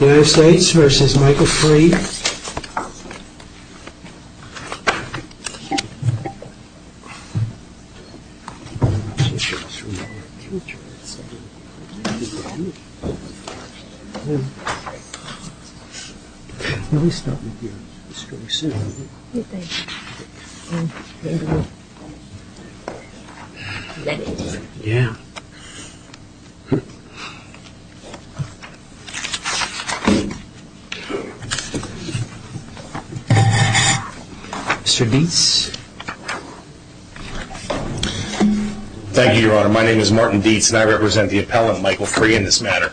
United States v. Michael Free Mr. Dietz? Thank you, Your Honor. My name is Martin Dietz and I represent the appellant, Michael Free, in this matter.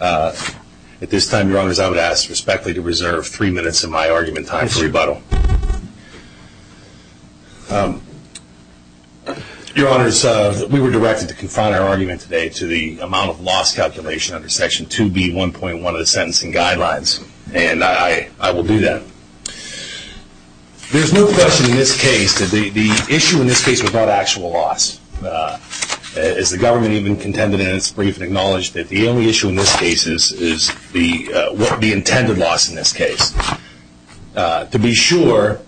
At this time, Your Honors, I would ask respectfully to reserve three minutes of my argument time for rebuttal. Your Honors, we were directed to confine our own loss calculation under Section 2B1.1 of the Sentencing Guidelines. There is no question in this case that the issue in this case was not actual loss. As the government even contended in its brief and acknowledged that the only issue in this case is the intended loss in this case. To be sure,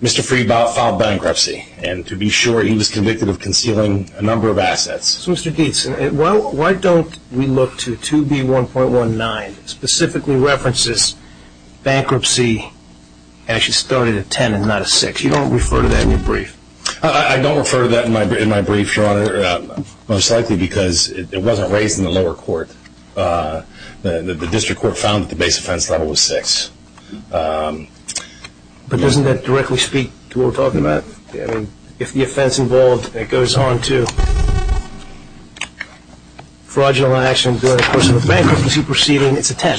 Mr. Free filed bankruptcy and to be sure, he was convicted of concealing a number of assets. So, Mr. Dietz, why don't we look to 2B1.19 that specifically references bankruptcy and actually started at 10 and not at 6. You don't refer to that in your brief. I don't refer to that in my brief, Your Honor, most likely because it wasn't raised in the lower court. The district court found that the base offense level was 6. But doesn't that directly speak to what we're talking about? If the offense involved goes on to fraudulent action during the course of the bankruptcy proceeding, it's a 10.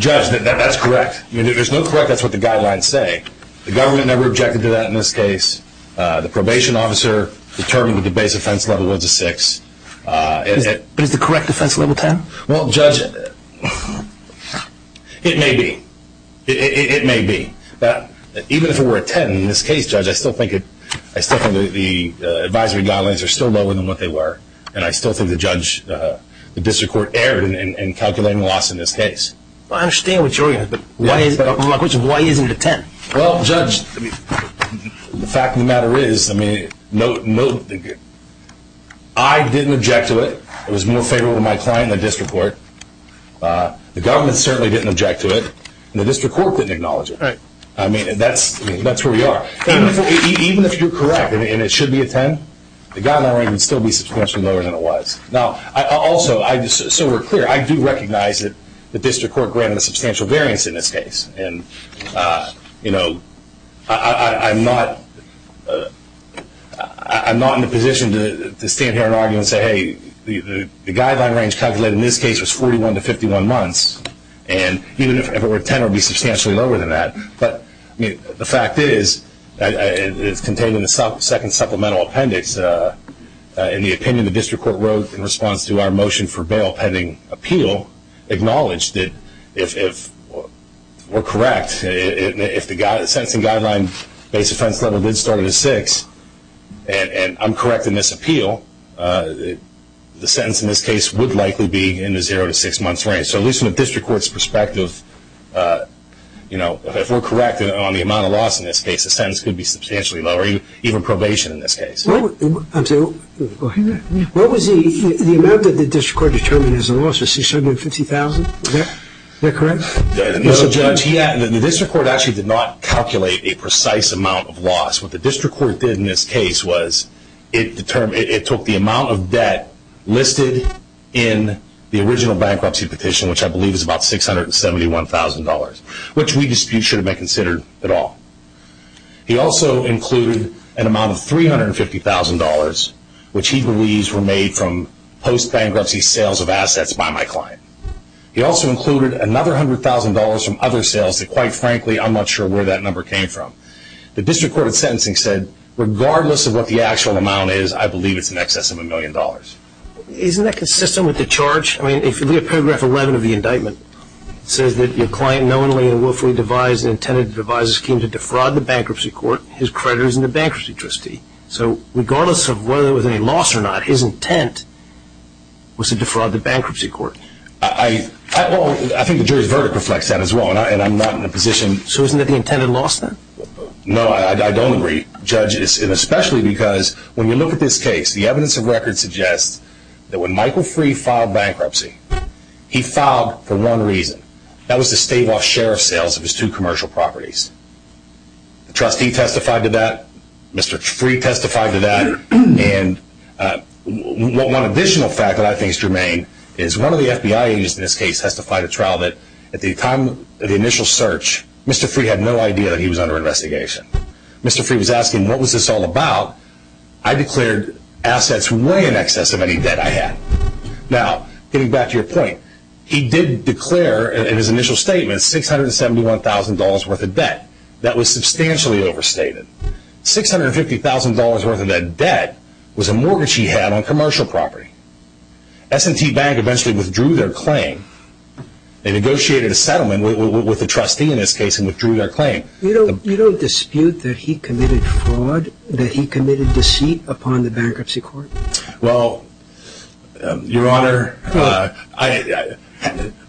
Judge, that's correct. There's no correctness to what the guidelines say. The government never objected to that in this case. The probation officer determined that the base offense level was a 6. But is the correct offense level 10? Well, Judge, it may be. It may be. Even if it were a 10 in this case, Judge, I still think the advisory guidelines are still lower than what they were. And I still think the district court erred in calculating the loss in this case. Well, I understand what you're saying, but why isn't it a 10? Well, Judge, the fact of the matter is, I didn't object to it. It was more favorable to my client than the district court. The government certainly didn't object to it, and the district court didn't acknowledge it. That's where we are. Even if you're correct and it should be a 10, the guideline range would still be substantially lower than it was. Also, so we're clear, I do recognize that the district court granted a substantial variance in this case. I'm not in a position to stand here and argue and say, the guideline range calculated in this case was 41 to 51 months. And even if it were a 10, it would be substantially lower than that. But the fact is, it's contained in the second supplemental appendix. In the opinion the district court wrote in response to our motion for bail pending appeal, acknowledged that if we're correct, if the sentencing guideline base offense level did start at a 6, and I'm correct in this appeal, the sentence in this case would likely be in the 0 to 6 months range. So at least from the district court's perspective, if we're correct on the amount of loss in this case, the sentence could be substantially lower, even probation in this case. What was the amount that the district court determined as a loss? Was it 650,000? Is that correct? Judge, the district court actually did not calculate a precise amount of loss. What the district court did in this case was it took the amount of debt listed in the original bankruptcy petition, which I believe is about $671,000, which we dispute should have been considered at all. He also included an amount of $350,000, which he believes were made from post-bankruptcy sales of assets by my client. He also included another $100,000 from other sales that, quite frankly, I'm not sure where that number came from. The district court in sentencing said, regardless of what the actual amount is, I believe it's in excess of $1 million. Isn't that consistent with the charge? I mean, if you look at paragraph 11 of the indictment, it says that your client knowingly and willfully devised and intended to devise a scheme to defraud the bankruptcy court, his credit is in the bankruptcy trustee. So regardless of whether there was any loss or not, his intent was to defraud the bankruptcy court. I think the jury's verdict reflects that as well, and I'm not in a position... So isn't it the intended loss, then? No, I don't agree, Judge, and especially because when you look at this case, the evidence of record suggests that when Michael Free filed bankruptcy, he filed for one reason. That was to stave off sheriff sales of his two commercial properties. The trustee testified to that, Mr. Free testified to that, and one additional fact that I think is germane is one of the FBI agents in this case testified at trial that at the time of the initial search, Mr. Free had no idea that he was under investigation. Mr. Free was asking, what was this all about? I declared assets way in excess of any debt I had. Now, getting back to your point, he did declare in his initial statement $671,000 worth of debt. That was substantially overstated. $650,000 worth of that debt was a mortgage he had on commercial property. S&T Bank eventually withdrew their claim. They negotiated a settlement with the trustee in this case and withdrew their claim. You don't dispute that he committed fraud, that he committed deceit upon the bankruptcy court? Well, Your Honor,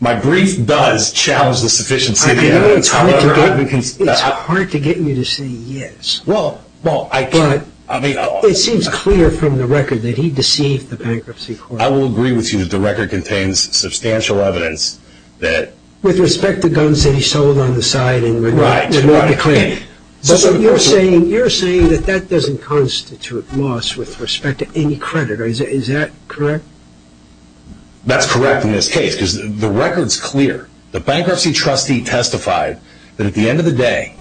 my brief does challenge the sufficiency of the evidence. It's hard to get you to say yes. But it seems clear from the record that he deceived the bankruptcy court. I will agree with you that the record contains substantial evidence that With respect to guns that he sold on the side and went back to the claim. Right. You're saying that that doesn't constitute loss with respect to any credit. Is that correct? That's correct in this case because the record's clear. The bankruptcy trustee testified that at the end of the day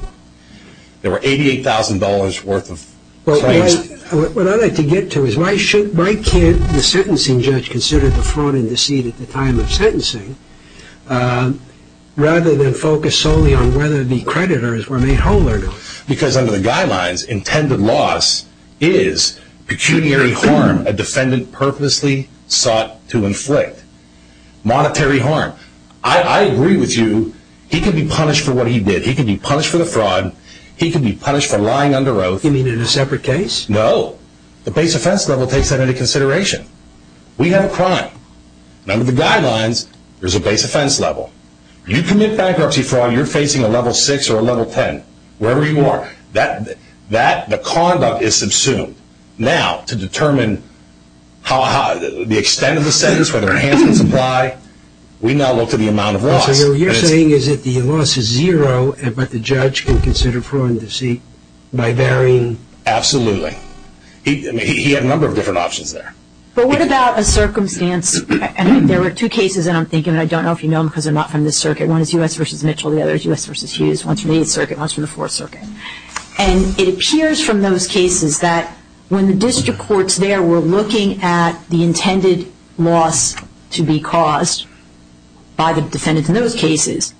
there were $88,000 worth of claims. What I'd like to get to is why can't the sentencing judge consider the fraud and deceit at the time of sentencing rather than focus solely on whether the creditors were made whole or not? Because under the guidelines, intended loss is pecuniary harm a defendant purposely sought to inflict. Monetary harm. I agree with you he could be punished for what he did. He could be punished for the fraud. He could be punished for lying under oath. You mean in a separate case? No. The base offense level takes that into consideration. We have a crime. Under the guidelines, there's a base offense level. You commit bankruptcy fraud, you're facing a level 6 or a level 10, wherever you are. The conduct is subsumed. Now, to determine the extent of the sentence, whether it's hands and supply, we now look to the amount of loss. So what you're saying is that the loss is zero, but the judge can consider fraud and deceit by varying? Absolutely. He had a number of different options there. But what about a circumstance? There were two cases, and I'm thinking, and I don't know if you know them because they're not from this circuit. One is U.S. v. Mitchell. The other is U.S. v. Hughes. One's from the 8th Circuit. One's from the 4th Circuit. And it appears from those cases that when the district courts there were looking at the intended loss to be caused by the defendants in those cases,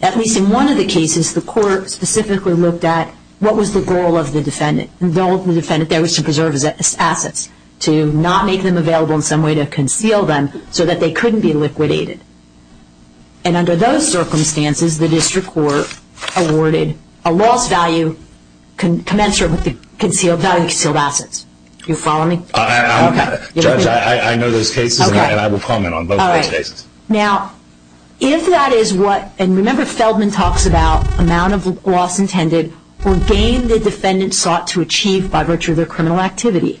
at least in one of the cases, the court specifically looked at what was the goal of the defendant. The goal of the defendant there was to preserve his assets, to not make them available in some way to conceal them, so that they couldn't be liquidated. And under those circumstances, the district court awarded a loss value commensurate with the concealed value of concealed assets. Do you follow me? Okay. Judge, I know those cases, and I will comment on both of those cases. All right. Now, if that is what, and remember, Feldman talks about amount of loss intended or gain the defendant sought to achieve by virtue of their criminal activity.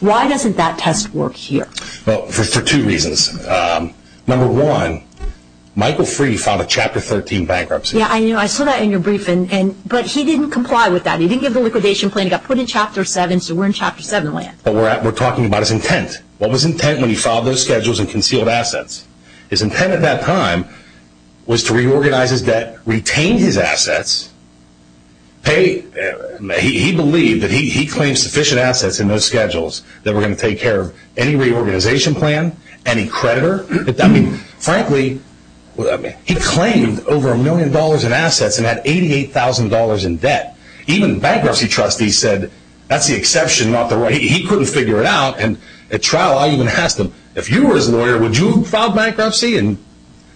Why doesn't that test work here? Well, for two reasons. Number one, Michael Freeh filed a Chapter 13 bankruptcy. Yeah, I saw that in your briefing. But he didn't comply with that. He didn't give the liquidation plan. It got put in Chapter 7, so we're in Chapter 7 land. But we're talking about his intent. What was his intent when he filed those schedules and concealed assets? His intent at that time was to reorganize his debt, retain his assets, pay, he believed that he claimed sufficient assets in those schedules that were going to take care of any reorganization plan, any creditor. I mean, frankly, he claimed over a million dollars in assets and had $88,000 in debt. Even bankruptcy trustees said that's the exception, not the way. He couldn't figure it out. And at trial, I even asked him, if you were his lawyer, would you file bankruptcy? And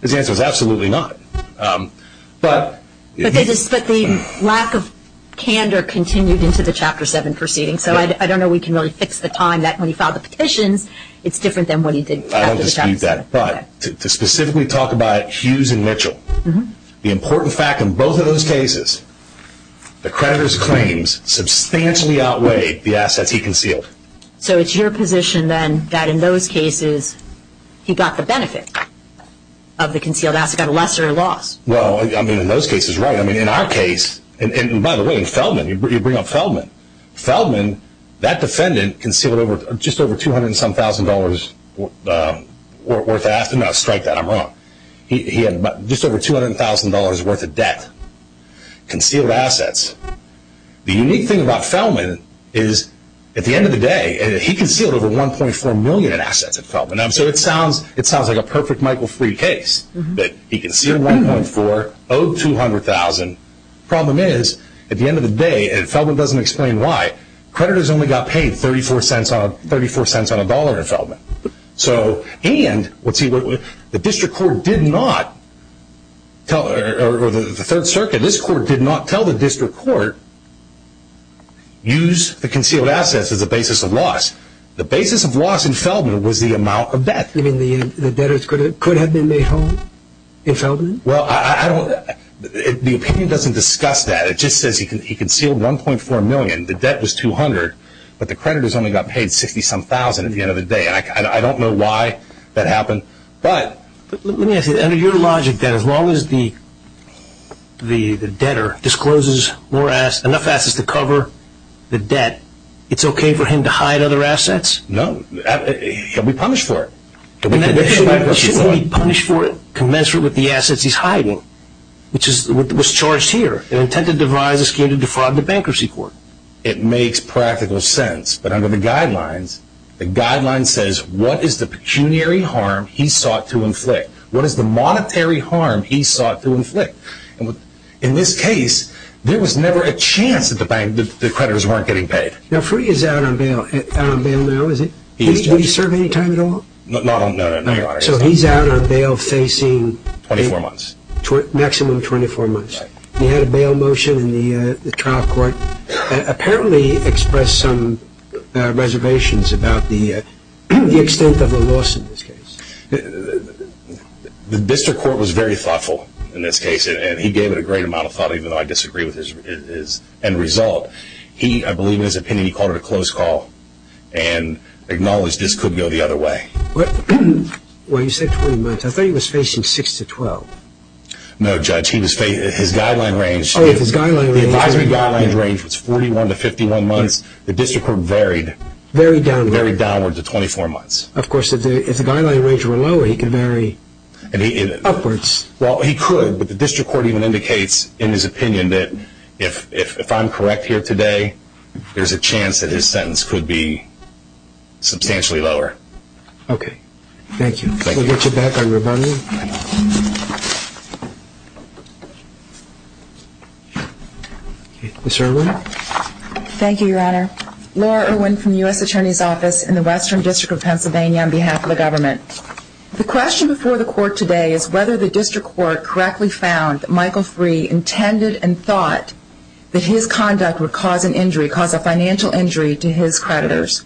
his answer was absolutely not. But the lack of candor continued into the Chapter 7 proceedings. So I don't know we can really fix the time that when he filed the petitions, it's different than what he did after the Chapter 7. I don't dispute that. But to specifically talk about Hughes and Mitchell, the important fact in both of those cases, the creditor's claims substantially outweighed the assets he concealed. So it's your position, then, that in those cases, he got the benefit of the concealed assets, got a lesser loss. Well, I mean, in those cases, right. I mean, in our case, and by the way, in Feldman, you bring up Feldman. Feldman, that defendant, concealed just over $200 and some thousand dollars worth of assets. And I'll strike that. I'm wrong. He had just over $200,000 worth of debt, concealed assets. The unique thing about Feldman is at the end of the day, he concealed over $1.4 million in assets at Feldman. So it sounds like a perfect Michael Freed case that he concealed $1.4 million, owed $200,000. The problem is, at the end of the day, Feldman doesn't explain why. Creditors only got paid $0.34 on a dollar at Feldman. So, and, let's see, the district court did not tell, or the Third Circuit, this court did not tell the district court, use the concealed assets as a basis of loss. The basis of loss in Feldman was the amount of debt. You mean the debtors could have been made whole in Feldman? Well, I don't, the opinion doesn't discuss that. It just says he concealed $1.4 million. The debt was $200,000, but the creditors only got paid $60,000-some thousand at the end of the day. And I don't know why that happened, but. Let me ask you, under your logic, that as long as the debtor discloses enough assets to cover the debt, it's okay for him to hide other assets? No. He'll be punished for it. Shouldn't he be punished for it, commensurate with the assets he's hiding, which was charged here, and intended to devise a scheme to defraud the bankruptcy court? It makes practical sense, but under the guidelines, the guidelines says, what is the pecuniary harm he sought to inflict? What is the monetary harm he sought to inflict? In this case, there was never a chance that the creditors weren't getting paid. Now, free is out on bail now, is it? Would he serve any time at all? Not on bail. So he's out on bail facing? 24 months. Maximum 24 months. He had a bail motion in the trial court, apparently expressed some reservations about the extent of the loss in this case. The district court was very thoughtful in this case, and he gave it a great amount of thought, even though I disagree with his end result. I believe in his opinion, he called it a close call. And acknowledged this could go the other way. Well, you said 20 months. I thought he was facing 6 to 12. No, Judge. His guideline range. Oh, his guideline range. The advisory guideline range was 41 to 51 months. The district court varied. Varied downward. Varied downward to 24 months. Of course, if the guideline range were lower, he could vary upwards. Well, he could, but the district court even indicates, in his opinion, that if I'm correct here today, there's a chance that his sentence could be substantially lower. Okay. Thank you. We'll get you back on your money. Ms. Irwin. Thank you, Your Honor. Laura Irwin from the U.S. Attorney's Office in the Western District of Pennsylvania on behalf of the government. The question before the court today is whether the district court correctly found that Michael Free intended and thought that his conduct would cause an injury, cause a financial injury to his creditors.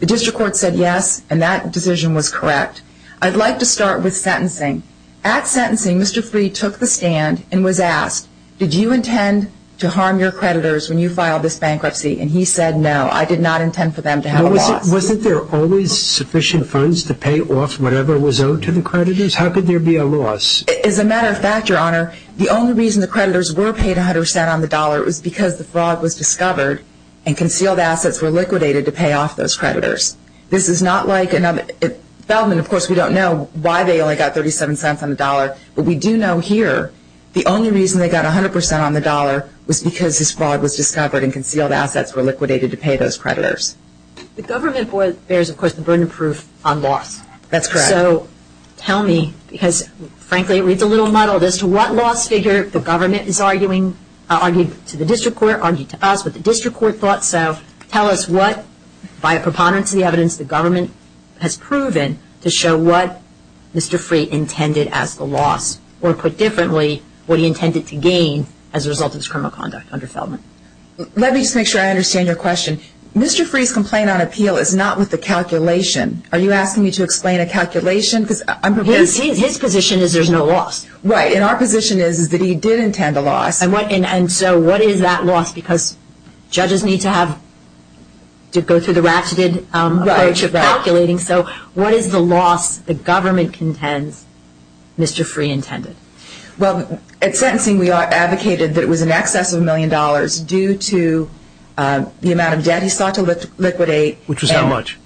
The district court said yes, and that decision was correct. I'd like to start with sentencing. At sentencing, Mr. Free took the stand and was asked, did you intend to harm your creditors when you filed this bankruptcy? And he said no, I did not intend for them to have a loss. Wasn't there always sufficient funds to pay off whatever was owed to the creditors? How could there be a loss? As a matter of fact, Your Honor, the only reason the creditors were paid 100% on the dollar was because the fraud was discovered and concealed assets were liquidated to pay off those creditors. This is not like another – Feldman, of course, we don't know why they only got 37 cents on the dollar, but we do know here the only reason they got 100% on the dollar was because this fraud was discovered and concealed assets were liquidated to pay those creditors. The government bears, of course, the burden of proof on loss. That's correct. So tell me, because frankly it reads a little muddled, as to what loss figure the government is arguing, argued to the district court, argued to us, but the district court thought so. Tell us what, by a preponderance of the evidence, the government has proven to show what Mr. Free intended as the loss, or put differently, what he intended to gain as a result of this criminal conduct under Feldman. Let me just make sure I understand your question. Mr. Free's complaint on appeal is not with the calculation. Are you asking me to explain a calculation? His position is there's no loss. Right, and our position is that he did intend a loss. And so what is that loss? Because judges need to go through the ratcheted approach of calculating. So what is the loss the government contends Mr. Free intended? Well, at sentencing we advocated that it was in excess of a million dollars due to the amount of debt he sought to liquidate. Which was how much?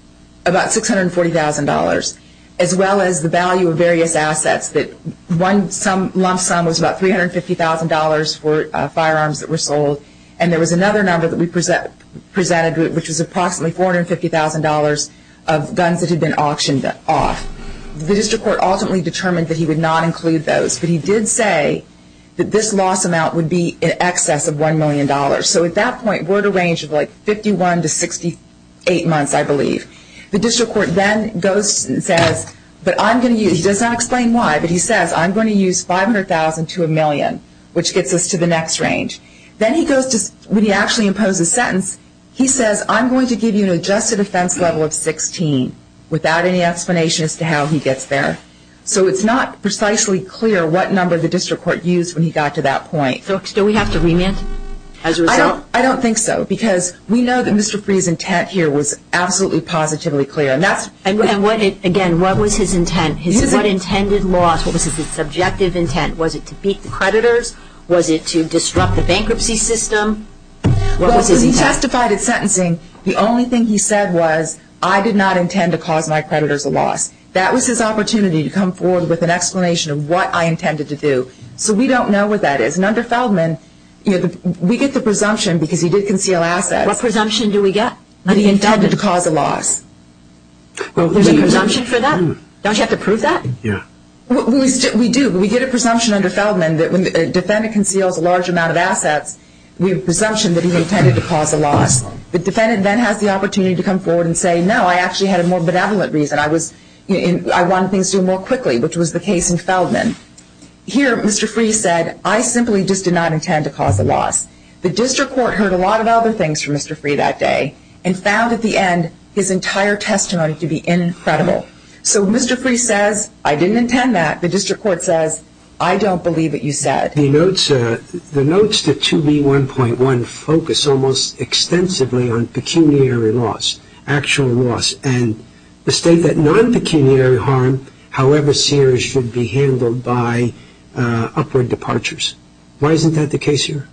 About $640,000, as well as the value of various assets. One lump sum was about $350,000 for firearms that were sold, and there was another number that we presented, which was approximately $450,000 of guns that had been auctioned off. The district court ultimately determined that he would not include those, but he did say that this loss amount would be in excess of $1 million. So at that point we're at a range of like 51 to 68 months, I believe. The district court then goes and says, but I'm going to use, he does not explain why, but he says I'm going to use $500,000 to a million, which gets us to the next range. Then he goes to, when he actually imposes a sentence, he says, I'm going to give you an adjusted offense level of 16, without any explanation as to how he gets there. So it's not precisely clear what number the district court used when he got to that point. Do we have to remand as a result? I don't think so, because we know that Mr. Freeh's intent here was absolutely positively clear. Again, what was his intent? What was his intended loss? What was his subjective intent? Was it to beat the creditors? Was it to disrupt the bankruptcy system? Well, because he testified at sentencing, the only thing he said was, I did not intend to cause my creditors a loss. That was his opportunity to come forward with an explanation of what I intended to do. So we don't know what that is. And under Feldman, we get the presumption, because he did conceal assets. What presumption do we get? That he intended to cause a loss. There's a presumption for that? Don't you have to prove that? Yeah. We do. We get a presumption under Feldman that when a defendant conceals a large amount of assets, we have a presumption that he intended to cause a loss. The defendant then has the opportunity to come forward and say, no, I actually had a more benevolent reason. I wanted things to go more quickly, which was the case in Feldman. Here, Mr. Freeh said, I simply just did not intend to cause a loss. The district court heard a lot of other things from Mr. Freeh that day and found at the end his entire testimony to be incredible. So Mr. Freeh says, I didn't intend that. The district court says, I don't believe what you said. The notes to 2B1.1 focus almost extensively on pecuniary loss, actual loss, and the state that non-pecuniary harm, however serious, should be handled by upward departures. Why isn't that the case here?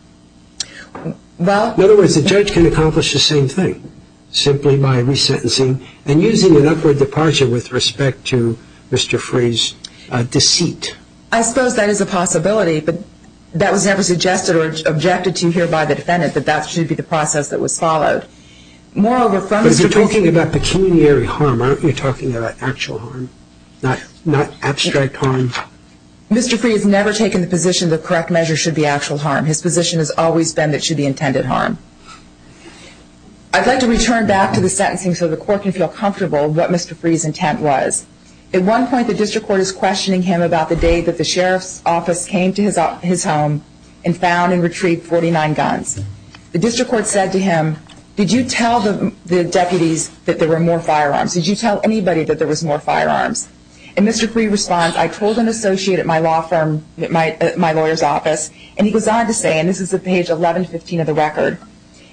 In other words, the judge can accomplish the same thing simply by resentencing and using an upward departure with respect to Mr. Freeh's deceit. I suppose that is a possibility, but that was never suggested or objected to here by the defendant, that that should be the process that was followed. But you're talking about pecuniary harm, aren't you? You're talking about actual harm, not abstract harm. Mr. Freeh has never taken the position that correct measure should be actual harm. His position has always been that it should be intended harm. I'd like to return back to the sentencing so the court can feel comfortable with what Mr. Freeh's intent was. At one point, the district court is questioning him about the day that the sheriff's office came to his home and found and retrieved 49 guns. The district court said to him, did you tell the deputies that there were more firearms? Did you tell anybody that there was more firearms? And Mr. Freeh responds, I told an associate at my lawyer's office, and he goes on to say, and this is at page 1115 of the record,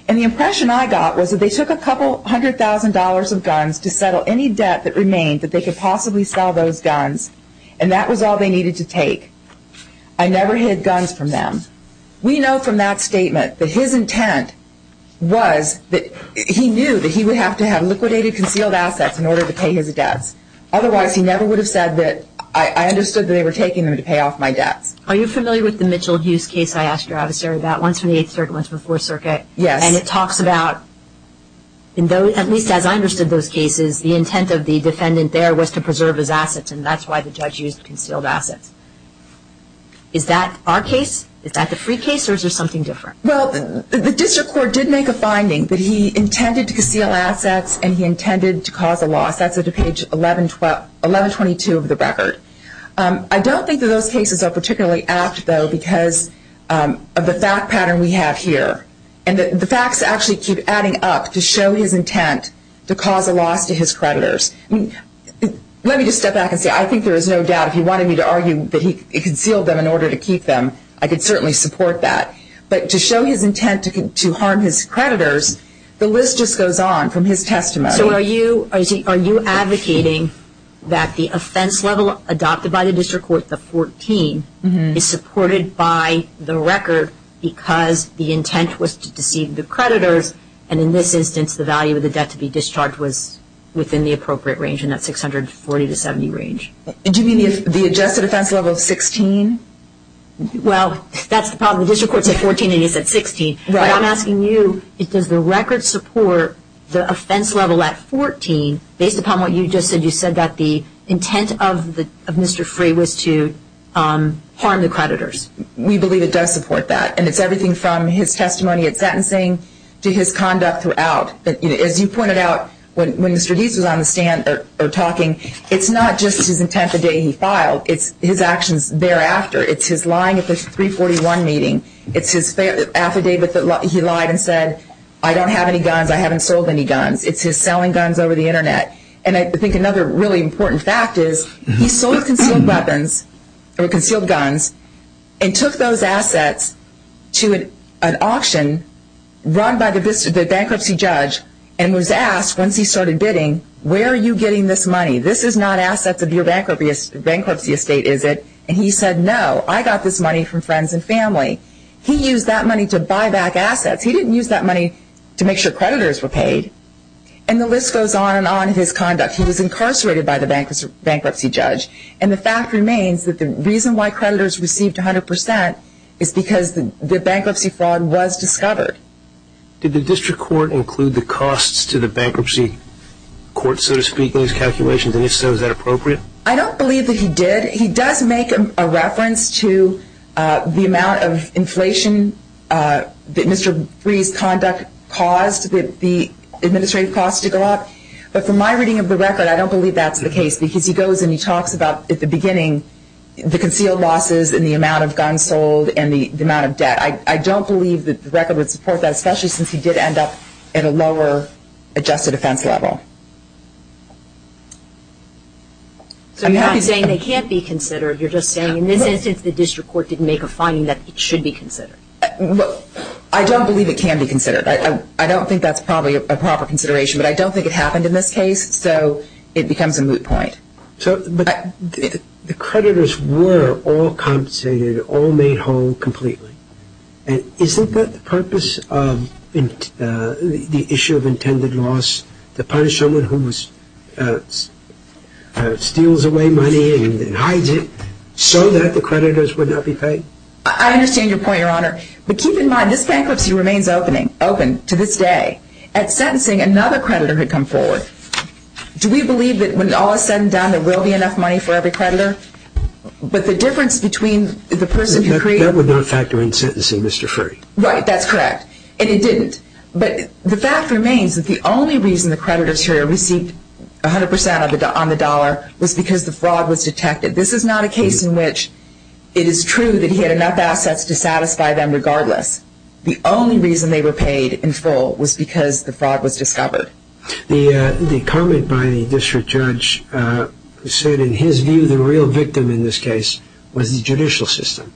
and the impression I got was that they took a couple hundred thousand dollars of guns to settle any debt that remained that they could possibly sell those guns, and that was all they needed to take. I never hid guns from them. We know from that statement that his intent was that he knew that he would have to have liquidated concealed assets in order to pay his debts. Otherwise, he never would have said that I understood that they were taking them to pay off my debts. Are you familiar with the Mitchell Hughes case I asked you about, once from the 8th Circuit, once from the 4th Circuit? Yes. And it talks about, at least as I understood those cases, the intent of the defendant there was to preserve his assets, and that's why the judge used concealed assets. Is that our case? Is that the free case, or is there something different? Well, the district court did make a finding that he intended to conceal assets and he intended to cause a loss. That's at page 1122 of the record. I don't think that those cases are particularly apt, though, because of the fact pattern we have here, and the facts actually keep adding up to show his intent to cause a loss to his creditors. Let me just step back and say I think there is no doubt if he wanted me to argue that he concealed them in order to keep them, I could certainly support that. But to show his intent to harm his creditors, the list just goes on from his testimony. So are you advocating that the offense level adopted by the district court, the 14, is supported by the record because the intent was to deceive the creditors, and in this instance the value of the debt to be discharged was within the appropriate range, and that's 640 to 70 range. Do you mean the adjusted offense level of 16? Well, that's the problem. The district court said 14 and he said 16. But I'm asking you, does the record support the offense level at 14 based upon what you just said? You said that the intent of Mr. Freeh was to harm the creditors. We believe it does support that, and it's everything from his testimony at sentencing to his conduct throughout. As you pointed out when Mr. Deese was on the stand or talking, it's not just his intent the day he filed, it's his actions thereafter. It's his lying at the 341 meeting. It's his affidavit that he lied and said, I don't have any guns, I haven't sold any guns. It's his selling guns over the Internet. And I think another really important fact is he sold concealed weapons or concealed guns and took those assets to an auction run by the bankruptcy judge and was asked, once he started bidding, where are you getting this money? This is not assets of your bankruptcy estate, is it? And he said, no, I got this money from friends and family. He used that money to buy back assets. He didn't use that money to make sure creditors were paid. And the list goes on and on in his conduct. He was incarcerated by the bankruptcy judge. And the fact remains that the reason why creditors received 100% is because the bankruptcy fraud was discovered. Did the district court include the costs to the bankruptcy court, so to speak, in his calculations? And if so, is that appropriate? I don't believe that he did. He does make a reference to the amount of inflation that Mr. Bree's conduct caused the administrative costs to go up. But from my reading of the record, I don't believe that's the case because he goes and he talks about at the beginning the concealed losses and the amount of guns sold and the amount of debt. I don't believe that the record would support that, especially since he did end up at a lower adjusted offense level. So you're not saying they can't be considered. You're just saying in this instance the district court didn't make a finding that it should be considered. I don't believe it can be considered. I don't think that's probably a proper consideration, but I don't think it happened in this case, so it becomes a moot point. But the creditors were all compensated, all made whole completely. Isn't that the purpose of the issue of intended loss, to punish someone who steals away money and hides it so that the creditors would not be paid? I understand your point, Your Honor. But keep in mind, this bankruptcy remains open to this day. At sentencing, another creditor had come forward. Do we believe that when all is said and done, there will be enough money for every creditor? But the difference between the person who created... That would not factor in sentencing, Mr. Ferry. Right, that's correct, and it didn't. But the fact remains that the only reason the creditors here received 100% on the dollar was because the fraud was detected. This is not a case in which it is true that he had enough assets to satisfy them regardless. The only reason they were paid in full was because the fraud was discovered. The comment by the district judge said, in his view, the real victim in this case was the judicial system.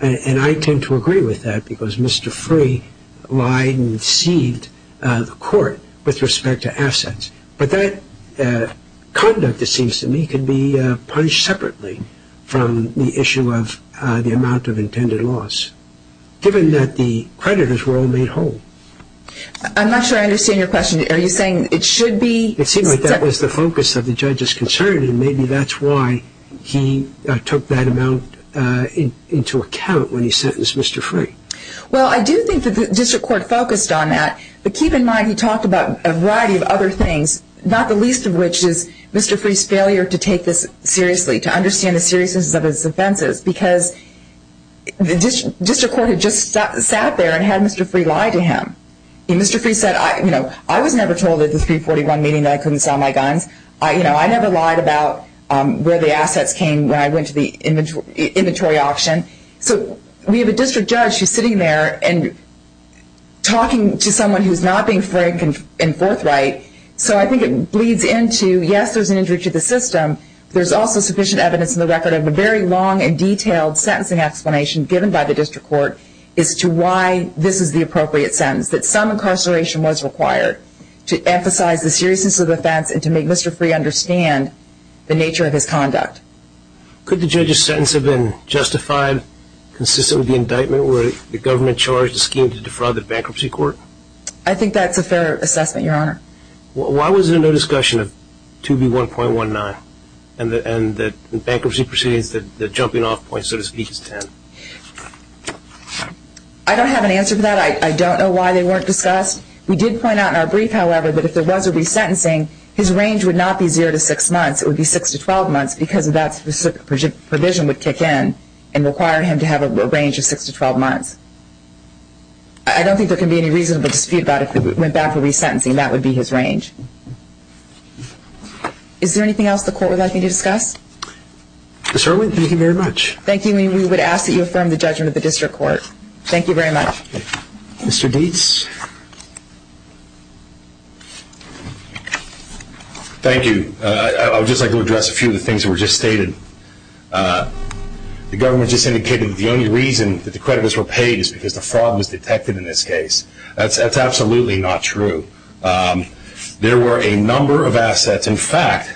And I tend to agree with that because Mr. Ferry lied and deceived the court with respect to assets. But that conduct, it seems to me, could be punished separately from the issue of the amount of intended loss, given that the creditors were all made whole. I'm not sure I understand your question. Are you saying it should be... It seems like that was the focus of the judge's concern, and maybe that's why he took that amount into account when he sentenced Mr. Ferry. Well, I do think that the district court focused on that, but keep in mind he talked about a variety of other things, not the least of which is Mr. Ferry's failure to take this seriously, to understand the seriousness of his offenses, because the district court had just sat there and had Mr. Ferry lie to him. Mr. Ferry said, you know, I was never told at the 341 meeting that I couldn't sell my guns. You know, I never lied about where the assets came when I went to the inventory auction. So we have a district judge who's sitting there and talking to someone who's not being frank and forthright. So I think it bleeds into, yes, there's an injury to the system, but there's also sufficient evidence in the record of a very long and detailed sentencing explanation given by the district court as to why this is the appropriate sentence, that some incarceration was required to emphasize the seriousness of the offense and to make Mr. Ferry understand the nature of his conduct. Could the judge's sentence have been justified consistent with the indictment where the government charged the scheme to defraud the bankruptcy court? I think that's a fair assessment, Your Honor. Why was there no discussion of 2B1.19 and that bankruptcy proceedings, the jumping-off point, so to speak, is 10? I don't have an answer to that. I don't know why they weren't discussed. We did point out in our brief, however, that if there was a resentencing, his range would not be zero to six months. It would be six to 12 months because that specific provision would kick in and require him to have a range of six to 12 months. I don't think there can be any reasonable dispute about if he went back for resentencing. That would be his range. Is there anything else the court would like me to discuss? Ms. Irwin, thank you very much. Thank you. We would ask that you affirm the judgment of the district court. Thank you very much. Mr. Dietz. Thank you. I would just like to address a few of the things that were just stated. The government just indicated that the only reason that the creditors were paid is because the fraud was detected in this case. That's absolutely not true. There were a number of assets. In fact,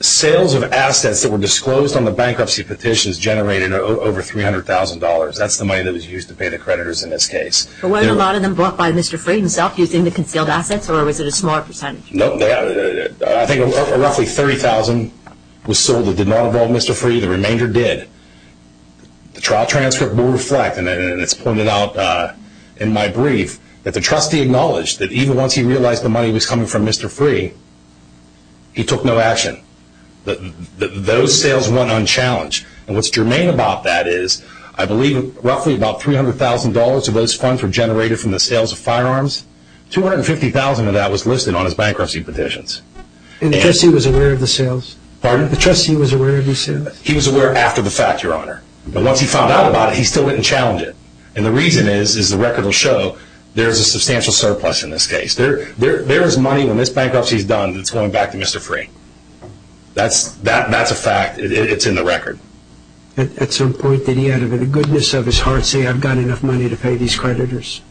sales of assets that were disclosed on the bankruptcy petitions generated over $300,000. That's the money that was used to pay the creditors in this case. But weren't a lot of them bought by Mr. Freed himself using the concealed assets or was it a smaller percentage? No. I think roughly $30,000 was sold that did not involve Mr. Freed. The remainder did. The trial transcript will reflect, and it's pointed out in my brief, that the trustee acknowledged that even once he realized the money was coming from Mr. Freed, he took no action. Those sales went unchallenged. And what's germane about that is I believe roughly about $300,000 of those funds were generated from the sales of firearms. $250,000 of that was listed on his bankruptcy petitions. And the trustee was aware of the sales? Pardon? The trustee was aware of the sales? He was aware after the fact, Your Honor. But once he found out about it, he still went and challenged it. And the reason is, as the record will show, there is a substantial surplus in this case. There is money when this bankruptcy is done that's going back to Mr. Freed. That's a fact. It's in the record. At some point did he, out of the goodness of his heart, say, I've got enough money to pay these creditors?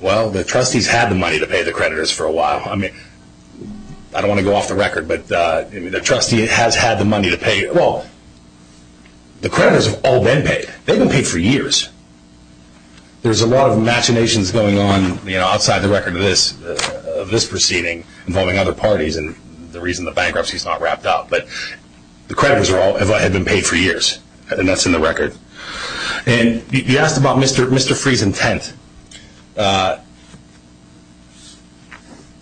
Well, the trustees had the money to pay the creditors for a while. I mean, I don't want to go off the record, but the trustee has had the money to pay. Well, the creditors have all been paid. They've been paid for years. There's a lot of machinations going on outside the record of this proceeding involving other parties and the reason the bankruptcy is not wrapped up. But the creditors had been paid for years, and that's in the record. He asked about Mr. Freed's intent.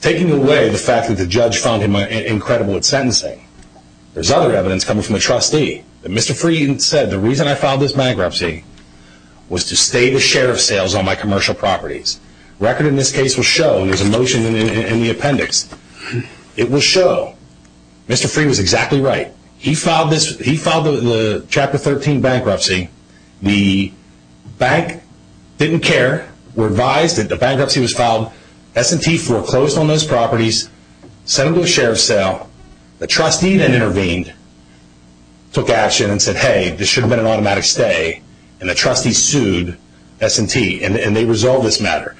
Taking away the fact that the judge found him incredible at sentencing, there's other evidence coming from the trustee that Mr. Freed said, the reason I filed this bankruptcy was to stay the share of sales on my commercial properties. The record in this case will show, and there's a motion in the appendix, it will show Mr. Freed was exactly right. He filed the Chapter 13 bankruptcy. The bank didn't care, revised that the bankruptcy was filed. S&T foreclosed on those properties, sent them to a share of sale. The trustee then intervened, took action, and said, hey, this should have been an automatic stay. And the trustee sued S&T, and they resolved this matter.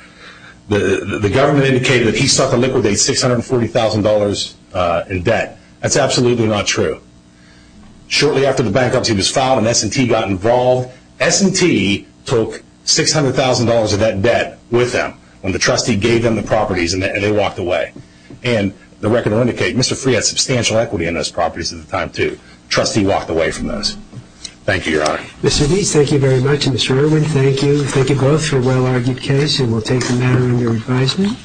The government indicated that he sought to liquidate $640,000 in debt. That's absolutely not true. Shortly after the bankruptcy was filed and S&T got involved, S&T took $600,000 of that debt with them when the trustee gave them the properties, and they walked away. And the record will indicate Mr. Freed had substantial equity in those properties at the time, too. The trustee walked away from those. Thank you, Your Honor. Mr. Deese, thank you very much. Mr. Irwin, thank you. Thank you both for a well-argued case, and we'll take the matter under advisement.